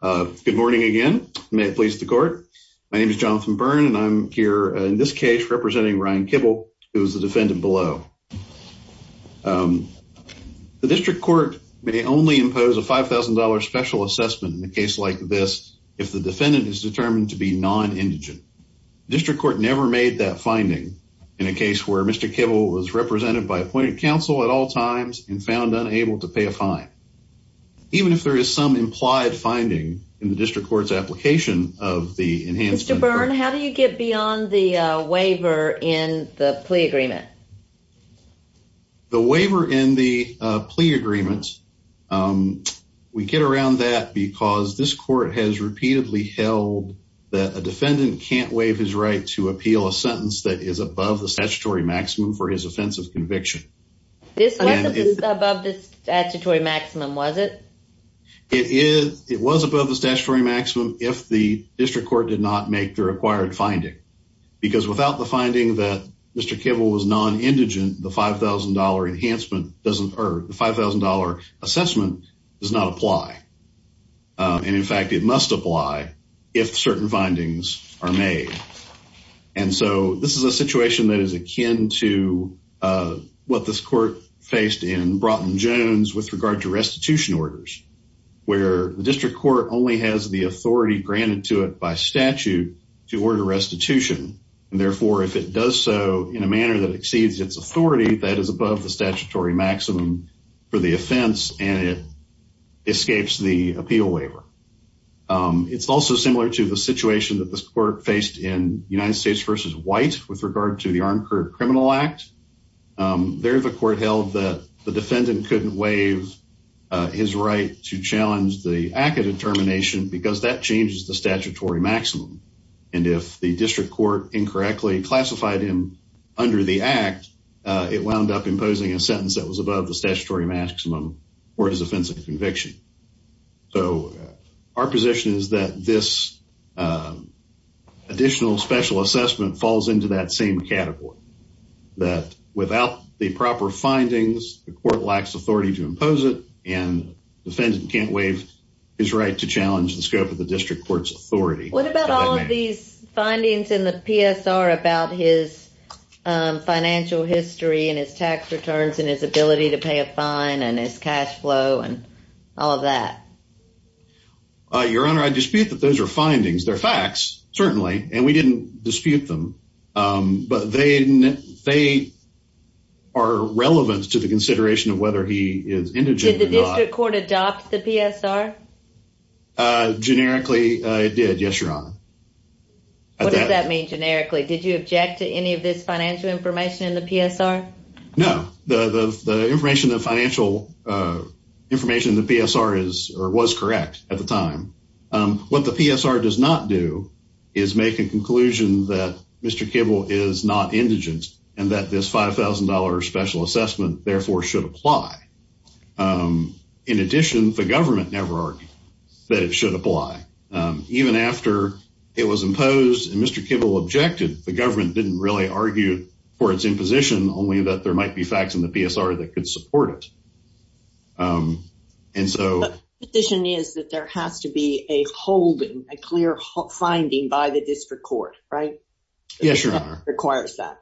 Good morning again. May it please the court. My name is Jonathan Byrne, and I'm here in this case representing Ryan Kibble, who is the defendant below. The District Court may only impose a $5,000 special assessment in a case like this if the defendant is determined to be non-indigent. The District Court never made that finding in a case where Mr. Kibble was represented by appointed counsel at all times and found unable to pay a fine. Even if there is some implied finding in the District Court's application of the Enhanced Inquiry. Mr. Byrne, how do you get beyond the waiver in the plea agreement? The waiver in the plea agreement, we get around that because this court has repeatedly held that a defendant can't waive his right to appeal a sentence that is above the statutory maximum for his offense of conviction. This wasn't above the statutory maximum, was it? It is. It was above the statutory maximum if the District Court did not make the required finding. Because without the finding that Mr. Kibble was non-indigent, the $5,000 enhancement doesn't, or the $5,000 assessment does not apply. And in fact, it must apply if certain findings are made. And so this is a situation that is akin to what this court faced in Broughton-Jones with regard to restitution orders. Where the District Court only has the authority granted to it by statute to order restitution. And therefore, if it does so in a manner that exceeds its authority, that is above the statutory maximum for the offense and it escapes the appeal waiver. It's also similar to the situation that this court faced in United States v. White with regard to the Arnkert Criminal Act. There, the court held that the defendant couldn't waive his right to challenge the act of determination because that changes the statutory maximum. And if the District Court incorrectly classified him under the act, it wound up imposing a sentence that was above the statutory maximum for his offense of conviction. So our position is that this additional special assessment falls into that same category. That without the proper findings, the court lacks authority to impose it and the defendant can't waive his right to challenge the scope of the District Court's authority. What about all of these findings in the PSR about his financial history and his tax returns and his ability to pay a fine and his cash flow and all of that? Your Honor, I dispute that those are findings. They're facts, certainly, and we didn't dispute them. But they are relevant to the consideration of whether he is indigent or not. Did the District Court adopt the PSR? Generically, it did. Yes, Your Honor. What does that mean, generically? Did you object to any of this financial information in the PSR? No. The information, the financial information in the PSR is or was correct at the time. What the PSR does not do is make a conclusion that Mr. Kibble is not indigent and that this $5,000 special assessment, therefore, should apply. In addition, the government never argued that it should apply. Even after it was imposed and Mr. Kibble objected, the government didn't really argue for its imposition, only that there might be facts in the PSR that could support it. And so... But the position is that there has to be a holding, a clear finding by the District Court, right? Yes, Your Honor. Requires that.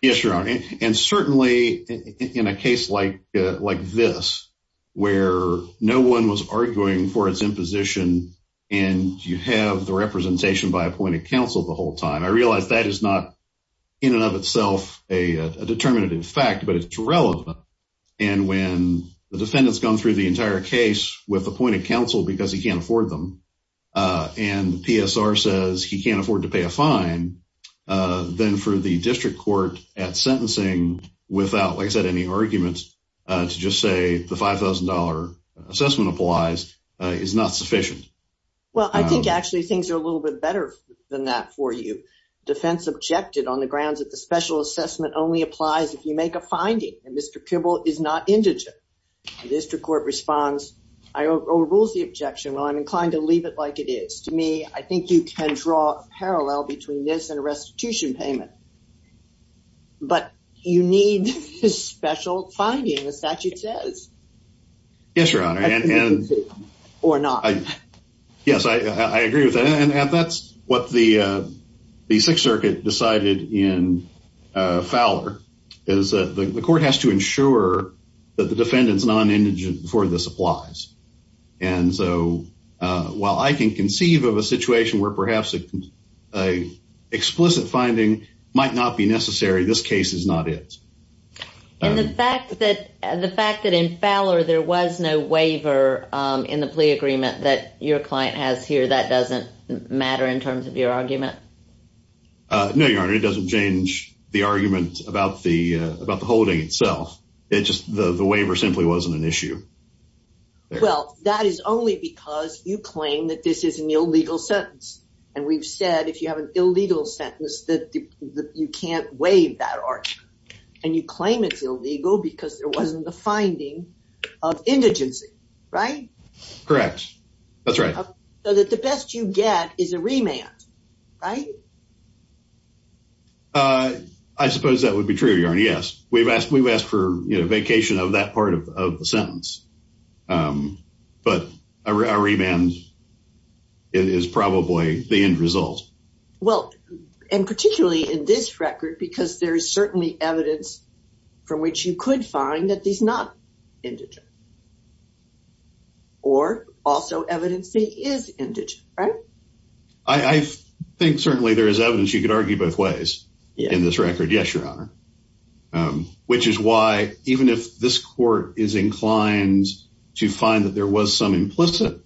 Yes, Your Honor. And certainly in a case like this, where no one was arguing for its imposition and you have the representation by appointed counsel the whole time, I realize that is not in and of itself a determinative fact, but it's relevant. And when the defendant's gone through the entire case with appointed counsel, because he can't afford them, and the PSR says he can't afford to pay a fine, then for the District Court at sentencing, without, like I said, any arguments to just say the $5,000 assessment applies, is not sufficient. Well, I think actually things are a little bit better than that for you. Defense objected on the grounds that the special assessment only applies if you make a finding and Mr. Kibble is not indigent. District Court responds, overrules the objection. Well, I'm inclined to leave it like it is. To me, I think you can draw a parallel between this and a restitution payment. But you need a special finding, the statute says. Yes, Your Honor. Or not. Yes, I agree with that. And that's what the Sixth Circuit decided in Fowler, is that the court has to ensure that the defendant's non-indigent before this applies. And so, while I can conceive of a situation where perhaps an explicit finding might not be necessary, this case is not it. And the fact that in Fowler, there was no waiver in the plea agreement that your client has here, that doesn't matter in terms of your argument? No, Your Honor, it doesn't change the argument about the holding itself. It's just the waiver simply wasn't an issue. Well, that is only because you claim that this is an illegal sentence. And we've said, if you have an illegal sentence, that you can't waive that argument. And you claim it's illegal because there wasn't the finding of indigency, right? Correct. That's right. So that the best you get is a remand, right? I suppose that would be true, Your Honor, yes. But a remand is probably the end result. Well, and particularly in this record, because there is certainly evidence from which you could find that he's not indigent. Or also evidence he is indigent, right? I think certainly there is evidence. You could argue both ways in this record. Yes, Your Honor. Which is why, even if this court is inclined to find that there was some implicit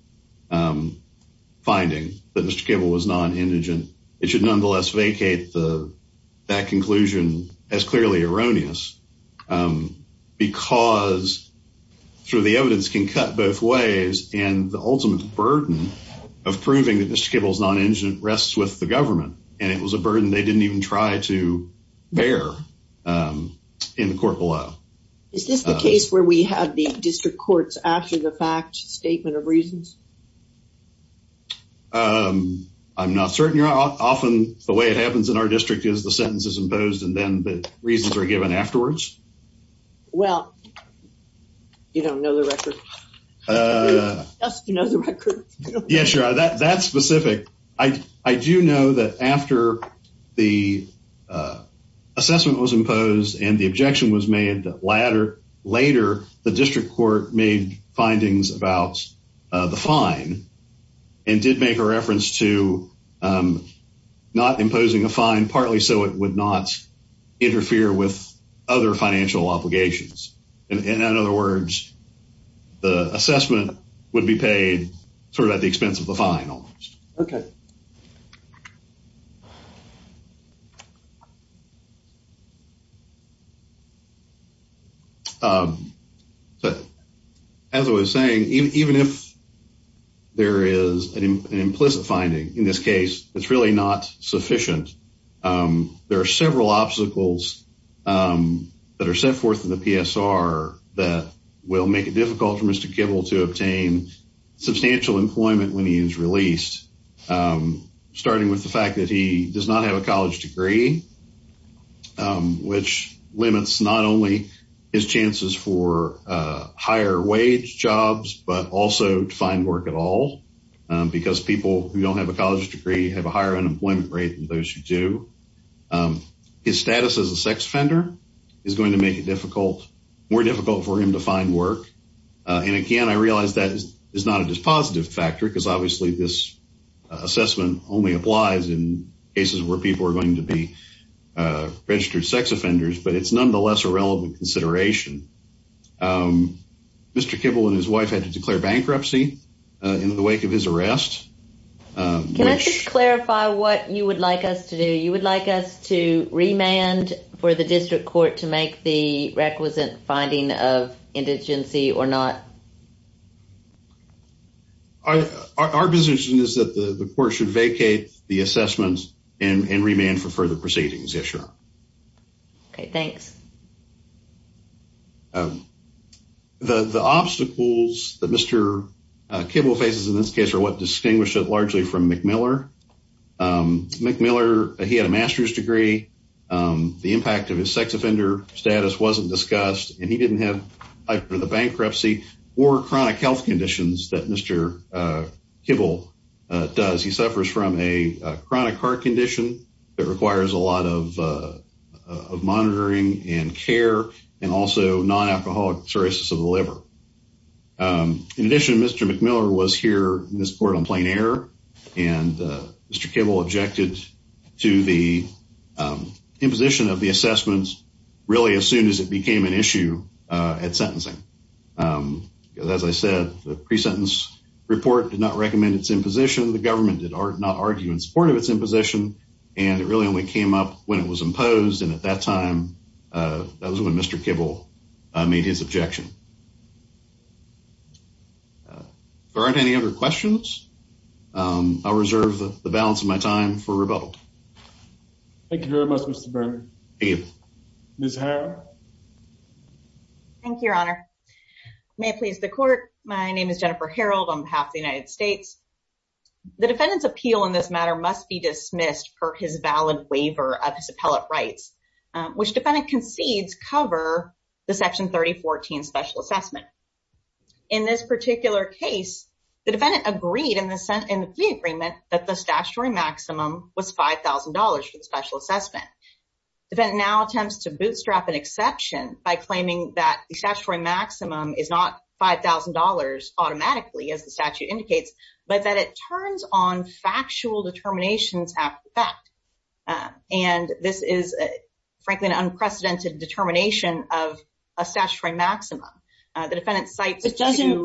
finding that Mr. Kibble was non-indigent, it should nonetheless vacate that conclusion as clearly erroneous. Because through the evidence can cut both ways. And the ultimate burden of proving that Mr. Kibble is non-indigent rests with the government. And it was a burden they didn't even try to bear in the court below. Is this the case where we have the district courts after the fact statement of reasons? I'm not certain, Your Honor. Often the way it happens in our district is the sentence is imposed and then the reasons are given afterwards. Well, you don't know the record. You just know the record. Yes, Your Honor. That's specific. I do know that after the assessment was imposed and the objection was made later, the district court made findings about the fine. And did make a reference to not imposing a fine, partly so it would not interfere with other financial obligations. In other words, the assessment would be paid sort of at the expense of the fine almost. Okay. As I was saying, even if there is an implicit finding in this case, it's really not sufficient. There are several obstacles that are set forth in the PSR that will make it difficult for Mr. Kibble to obtain substantial employment when he is released, starting with the fact that he does not have a college degree, which limits not only his chances for higher wage jobs, but also to find work at all. Because people who don't have a college degree have a higher unemployment rate than those who do. His status as a sex offender is going to make it difficult, more difficult for him to find work. And again, I realize that is not a dispositive factor because obviously this assessment only applies in cases where people are going to be registered sex offenders, but it's nonetheless a relevant consideration. Mr. Kibble and his wife had to declare bankruptcy in the wake of his arrest. Can I just clarify what you would like us to do? You would like us to remand for the district court to make the requisite finding of indigency or not? Our position is that the court should vacate the assessments and remand for further proceedings, yes, sure. Okay, thanks. The obstacles that Mr. Kibble faces in this case are what distinguish it largely from McMiller. McMiller, he had a master's degree. The impact of his sex offender status wasn't discussed, and he didn't have either the bankruptcy or chronic health conditions that Mr. Kibble does. He suffers from a chronic heart condition that requires a lot of monitoring and care, and also non-alcoholic cirrhosis of the liver. In addition, Mr. McMiller was here in this court on plain error, and Mr. Kibble objected to the imposition of the assessments really as soon as it became an issue at sentencing. As I said, the pre-sentence report did not recommend its imposition. The government did not argue in support of its imposition, and it really only came up when it was imposed. And at that time, that was when Mr. Kibble made his objection. If there aren't any other questions, I'll reserve the balance of my time for rebuttal. Thank you very much, Mr. Ms. Harrell. Thank you, Your Honor. May it please the Court, my name is Jennifer Harrell on behalf of the United States. The defendant's appeal in this matter must be dismissed per his valid waiver of his appellate rights, which defendant concedes cover the Section 3014 Special Assessment. In this particular case, the defendant agreed in the plea agreement that the statutory maximum was $5,000 for the Special Assessment. Defendant now attempts to bootstrap an exception by claiming that the statutory maximum is not $5,000 automatically, as the statute indicates, but that it turns on factual determinations after the fact. And this is, frankly, an unprecedented determination of a statutory maximum. The defendant cites- But doesn't,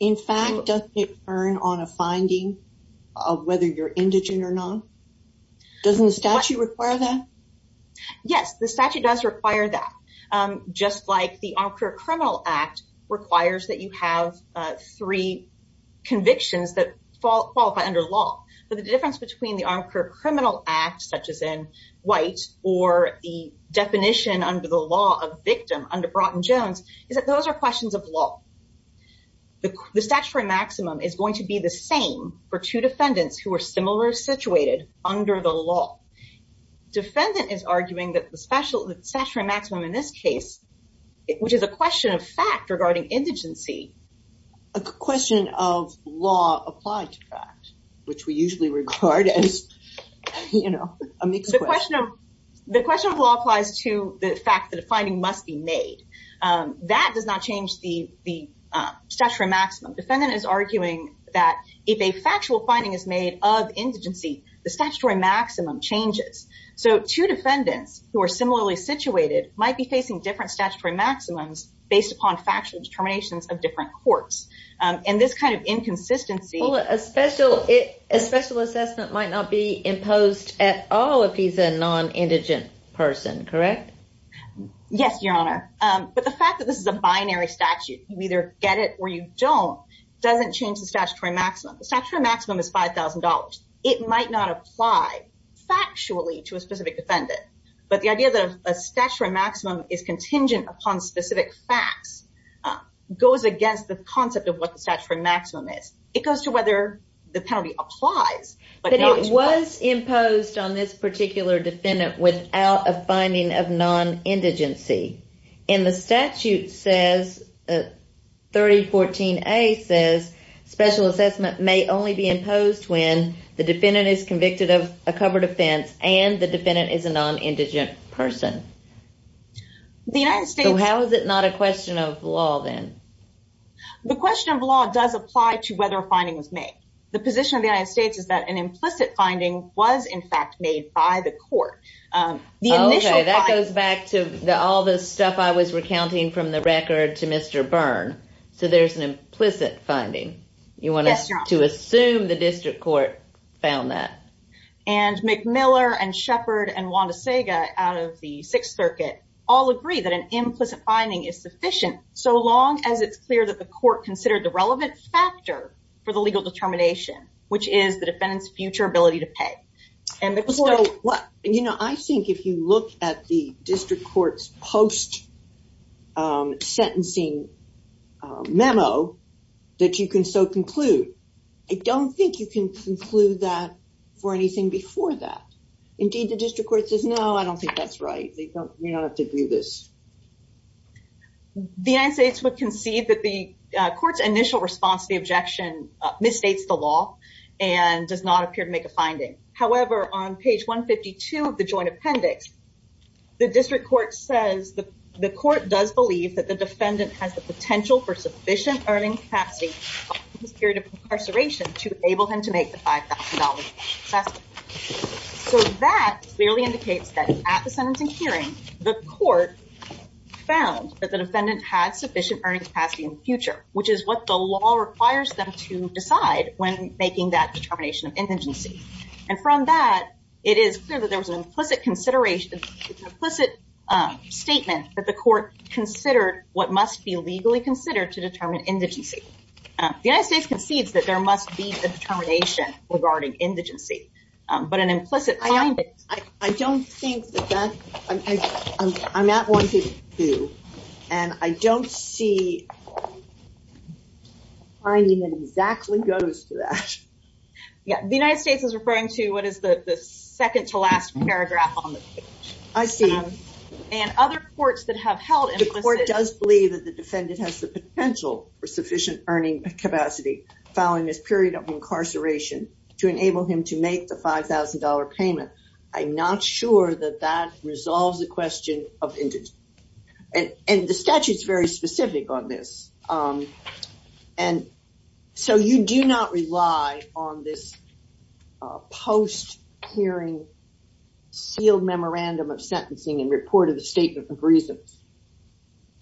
in fact, doesn't it turn on a finding of whether you're indigent or not? Doesn't the statute require that? Yes, the statute does require that, just like the Armed Career Criminal Act requires that you have three convictions that fall under law. But the difference between the Armed Career Criminal Act, such as in White, or the definition under the law of victim under Broughton-Jones, is that those are questions of law. The statutory maximum is going to be the same for two defendants who are similar situated under the law. Defendant is arguing that the statutory maximum in this case, which is a question of fact regarding indigency- A question of law applied to fact, which we usually regard as, you know, a mixed question. The question of law applies to the fact that a finding must be made. That does not change the statutory maximum. Defendant is arguing that if a factual finding is made of indigency, the statutory maximum changes. So two defendants who are similarly situated might be facing different statutory maximums based upon factual determinations of different courts. And this kind of inconsistency- Well, a special assessment might not be imposed at all if he's a non-indigent person, correct? Yes, Your Honor. But the fact that this is a binary statute, you either get it or you don't, doesn't change the statutory maximum. The statutory maximum is $5,000. It might not apply factually to a specific defendant. But the idea that a statutory maximum is contingent upon specific facts goes against the concept of what the statutory maximum is. It goes to whether the penalty applies. But it was imposed on this particular defendant without a finding of non-indigency. And the statute says, 3014A says, special assessment may only be imposed when the defendant is convicted of a covered offense and the defendant is a non-indigent person. The United States- So how is it not a question of law then? The question of law does apply to whether a finding was made. The position of the United States is that an implicit finding was, in fact, made by the court. The initial- That goes back to all the stuff I was recounting from the record to Mr. Byrne. So there's an implicit finding. You want us to assume the district court found that. And McMiller and Shepard and Wanda Saga out of the Sixth Circuit all agree that an implicit finding is sufficient so long as it's clear that the court considered the relevant factor for the legal determination, which is the defendant's future ability to pay. And the court- Well, you know, I think if you look at the district court's post sentencing memo that you can so conclude, I don't think you can conclude that for anything before that. Indeed, the district court says, no, I don't think that's right. They don't, you don't have to do this. The United States would concede that the court's initial response to the objection misstates the law and does not appear to make a finding. However, on page 152 of the joint appendix, the district court says that the court does believe that the defendant has the potential for sufficient earning capacity in this period of incarceration to enable him to make the $5,000. So that clearly indicates that at the sentencing hearing, the court found that the defendant had sufficient earning capacity in the future, which is what the law requires them to decide when making that determination of indigency. And from that, it is clear that there was an implicit consideration, implicit statement that the court considered what must be legally considered to determine indigency. The United States concedes that there must be a determination regarding indigency, but an implicit... I don't think that that, I'm at 152, and I don't see a finding that exactly goes to that. Yeah, the United States is referring to what is the second to last paragraph on the page. I see. And other courts that have held... The court does believe that the defendant has the potential for sufficient earning capacity following this period of incarceration to enable him to make the $5,000 payment. I'm not sure that that resolves the question of indigency. And the statute is very specific on this. And so you do not rely on this post-hearing sealed memorandum of sentencing and report of the statement of reasons.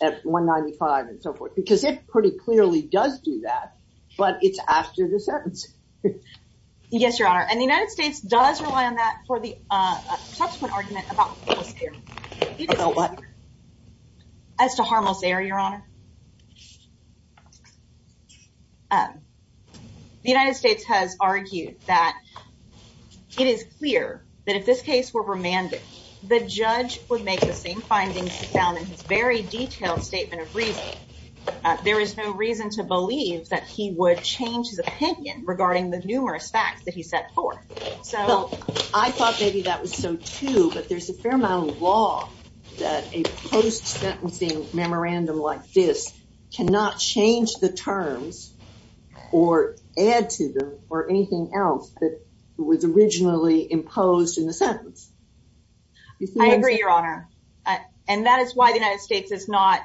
At 195 and so forth, because it pretty clearly does do that, but it's after the sentence. Yes, Your Honor. And the United States does rely on that for the subsequent argument about post-hearing. About what? As to harmless error, Your Honor. The United States has argued that it is clear that if this case were remanded, the judge would make the same findings found in his very detailed statement of reason. There is no reason to believe that he would change his opinion regarding the numerous facts that he set forth. So I thought maybe that was so too, but there's a fair amount of law that a post-sentencing memorandum like this cannot change the terms or add to them or anything else that was originally imposed in the sentence. I agree, Your Honor. And that is why the United States is not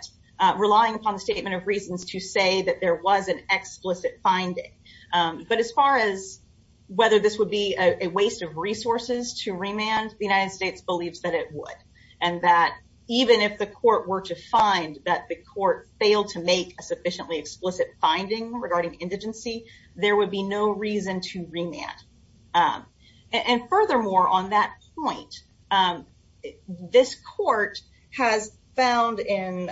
relying upon the statement of reasons to say that there was an explicit finding. But as far as whether this would be a waste of resources to remand, the United States believes that it would. And that even if the court were to find that the court failed to make a sufficiently explicit finding regarding indigency, there would be no reason to remand. And furthermore, on that point, this court has found in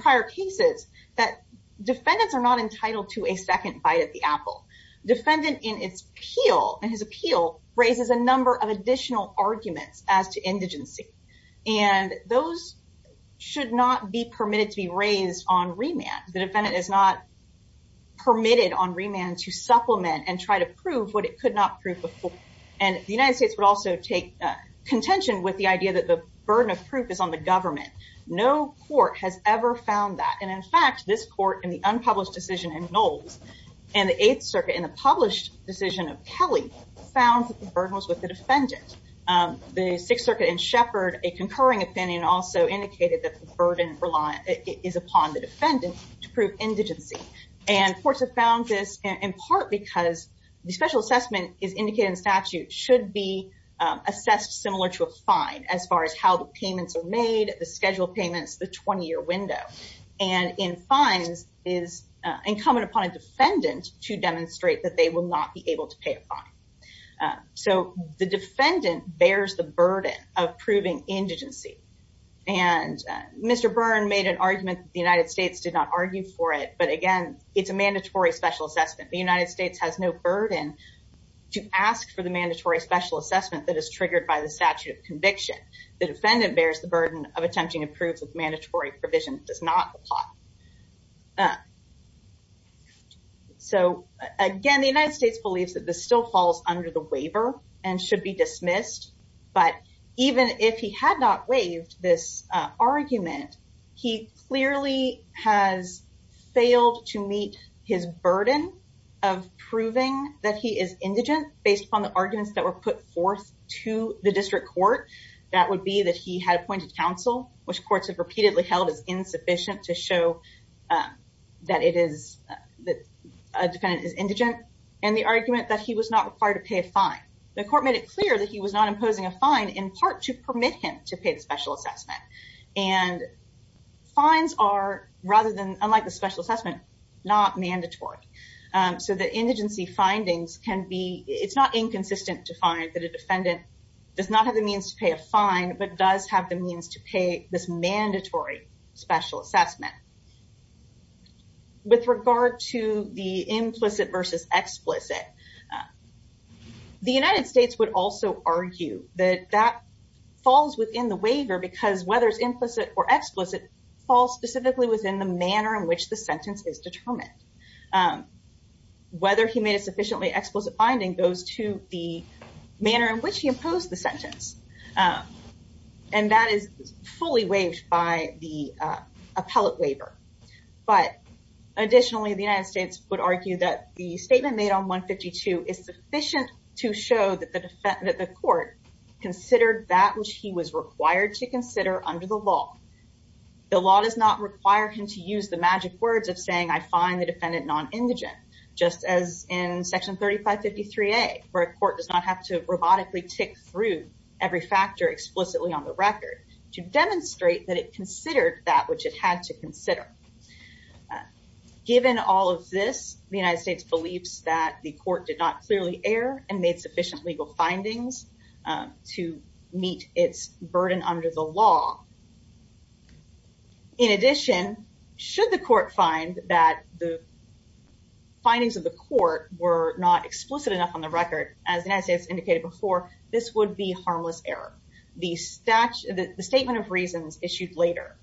prior cases that defendants are not entitled to a second bite at the apple. Defendant in his appeal raises a number of additional arguments as to indigency, and those should not be permitted to be raised on remand. The defendant is not permitted on remand to supplement and try to prove what it could not prove before. And the United States would also take contention with the idea that the burden of proof is on the government. No court has ever found that. And in fact, this court in the unpublished decision in Knowles and the Eighth Circuit in the published decision of Kelly found that the burden was with the defendant. The Sixth Circuit in Shepard, a concurring opinion also indicated that the burden is upon the defendant. To prove indigency, and courts have found this in part because the special assessment is indicated in statute should be assessed similar to a fine as far as how the payments are made, the schedule payments, the 20 year window. And in fines is incumbent upon a defendant to demonstrate that they will not be able to pay a fine. So the defendant bears the burden of proving indigency. And Mr. Byrne made an argument, the United States did not argue for it. But again, it's a mandatory special assessment. The United States has no burden to ask for the mandatory special assessment that is triggered by the statute of conviction. The defendant bears the burden of attempting to prove the mandatory provision does not apply. So again, the United States believes that this still falls under the waiver and should be dismissed. But even if he had not waived this argument, he clearly has failed to meet his burden of proving that he is indigent based upon the arguments that were put forth to the district court. That would be that he had appointed counsel, which courts have repeatedly held is insufficient to show that it is that a defendant is indigent. And the argument that he was not required to pay a fine. The court made it clear that he was not imposing a fine in part to permit him to pay the special assessment. And fines are rather than unlike the special assessment, not mandatory. So the indigency findings can be, it's not inconsistent to find that a defendant does not have the means to pay a fine, but does have the means to pay this mandatory special assessment. With regard to the implicit versus explicit, the United States would also argue that that falls within the waiver because whether it's implicit or explicit falls specifically within the manner in which the sentence is determined. Whether he made a sufficiently explicit finding goes to the manner in which he imposed the sentence. And that is fully waived by the appellate waiver. But additionally, the United States would argue that the statement made on 152 is sufficient to show that the court considered that which he was required to consider under the law. The law does not require him to use the magic words of saying, I find the defendant non-indigent, just as in Section 3553A, where a court does not have to robotically tick through every factor explicitly on the record to demonstrate that it considered that which it had to consider. Given all of this, the United States believes that the court did not clearly err and made sufficient legal findings to meet its burden under the law. In addition, should the court find that the findings of the court were not explicit enough on the record, as the United States indicated before, this would be harmless error. The statement of reasons issued later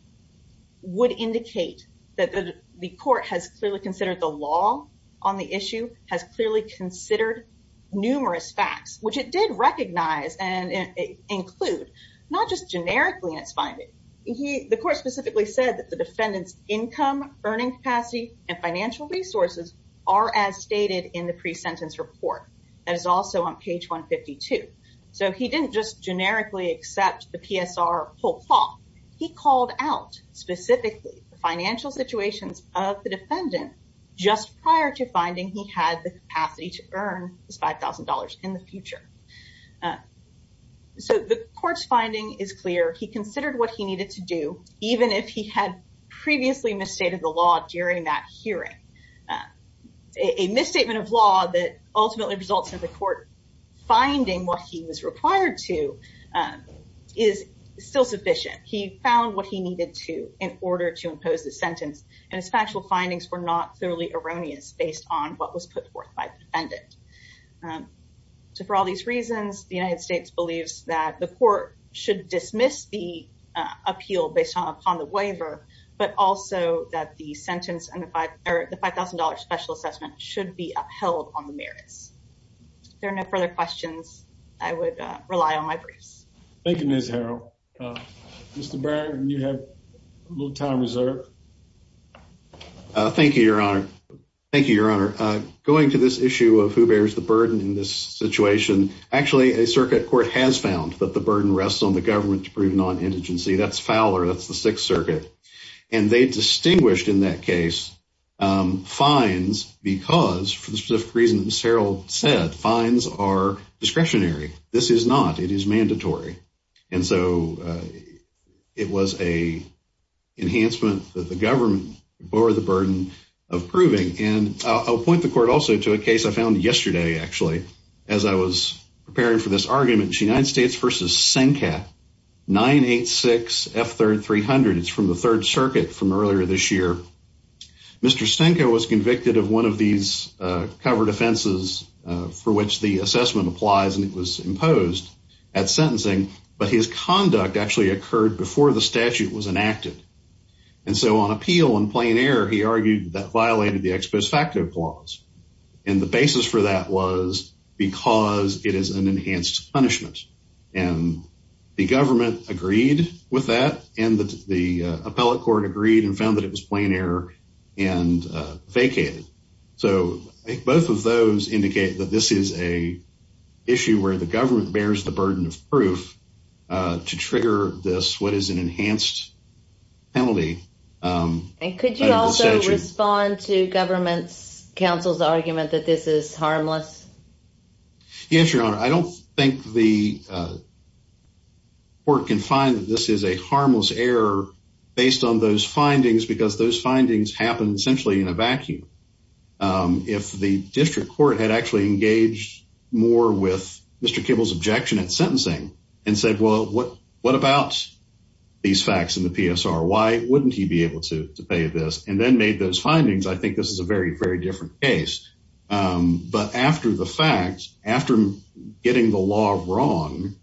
would indicate that the court has clearly considered the law on the issue, has clearly considered numerous facts, which it did recognize and include, not just generically in its finding. The court specifically said that the defendant's income, earning capacity, and financial resources are as stated in the pre-sentence report. That is also on page 152. So he didn't just generically accept the PSR whole lot. He called out specifically the financial situations of the defendant just prior to finding he had the capacity to earn his $5,000 in the future. So the court's finding is clear. He considered what he needed to do, even if he had previously misstated the law during that hearing. A misstatement of law that ultimately results in the court finding what he was required to is still sufficient. He found what he needed to in order to impose the sentence and his factual findings were not thoroughly erroneous based on what was put forth by the defendant. So for all these reasons, the United States believes that the court should dismiss the appeal based upon the waiver, but also that the sentence and the $5,000 special assessment should be upheld on the merits. If there are no further questions, I would rely on my briefs. Thank you, Ms. Harrell. Mr. Barron, you have a little time reserved. Thank you, Your Honor. Thank you, Your Honor. Going to this issue of who bears the burden in this situation, actually, a circuit court has found that the burden rests on the government to prove non-integency. That's Fowler. That's the Sixth Circuit. And they distinguished in that case fines because, for the specific reason that Ms. Harrell said, fines are discretionary. This is not. It is mandatory. And so it was an enhancement that the government bore the burden of proving. And I'll point the court also to a case I found yesterday, actually, as I was preparing for this argument, United States v. Senka, 986F300. It's from the Third Circuit from earlier this year. Mr. Senka was convicted of one of these covered offenses for which the assessment applies, and it was imposed at sentencing. But his conduct actually occurred before the statute was enacted. And so on appeal in plain error, he argued that violated the ex post facto clause. And the basis for that was because it is an enhanced punishment. And the government agreed with that, and the appellate court agreed and found that it was plain error and vacated. So both of those indicate that this is a issue where the government bears the burden of proof to trigger this, what is an enhanced penalty. And could you also respond to government's counsel's argument that this is harmless? Yes, Your Honor. I don't think the court can find that this is a harmless error based on those findings because those findings happen essentially in a vacuum. If the district court had actually engaged more with Mr. Kibble's objection at sentencing and said, well, what about these facts in the PSR? Why wouldn't he be able to pay this and then made those findings? I think this is a very, very different case. But after the fact, after getting the law wrong,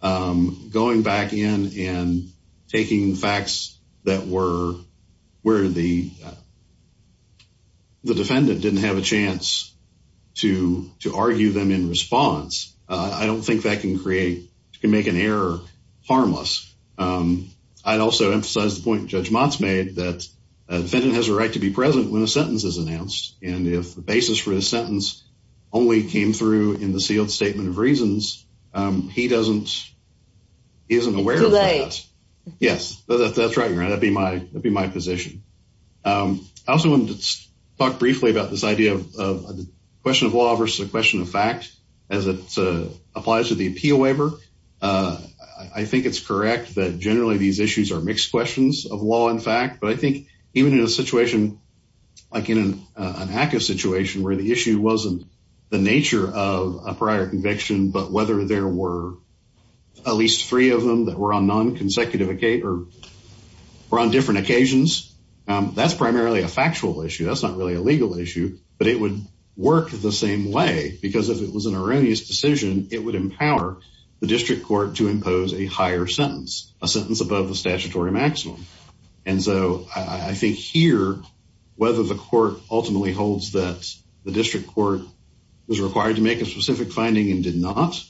going back in and taking facts that were where the defendant didn't have a chance to argue them in response, I don't think that can create, can make an error harmless. I'd also emphasize the point Judge Mott's made that a defendant has a right to be present when a sentence is announced. And if the basis for the sentence only came through in the sealed statement of reasons, he doesn't, he isn't aware of that. It's too late. Yes, that's right, Your Honor. That'd be my, that'd be my position. I also wanted to talk briefly about this idea of the question of law versus the question of fact as it applies to the appeal waiver. I think it's correct that generally these issues are mixed questions of law and fact. But I think even in a situation like in an ACCA situation where the issue wasn't the nature of a prior conviction, but whether there were at least three of them that were on non-consecutive or on different occasions, that's primarily a factual issue. That's not really a legal issue, but it would work the same way because if it was an erroneous decision, it would empower the district court to impose a higher sentence, a sentence above the statutory maximum. And so I think here, whether the court ultimately holds that the district court was required to make a specific finding and did not,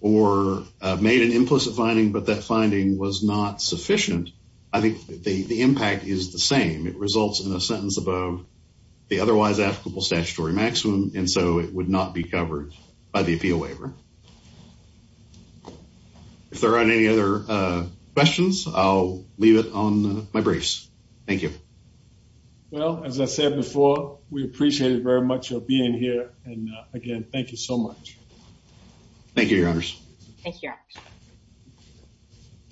or made an implicit finding, but that finding was not sufficient, I think the impact is the same. It results in a sentence above the otherwise applicable statutory maximum, and so it would not be covered by the appeal waiver. If there aren't any other questions, I'll leave it on my briefs. Thank you. Well, as I said before, we appreciate it very much for being here. And again, thank you so much. Thank you, Your Honors. Thank you.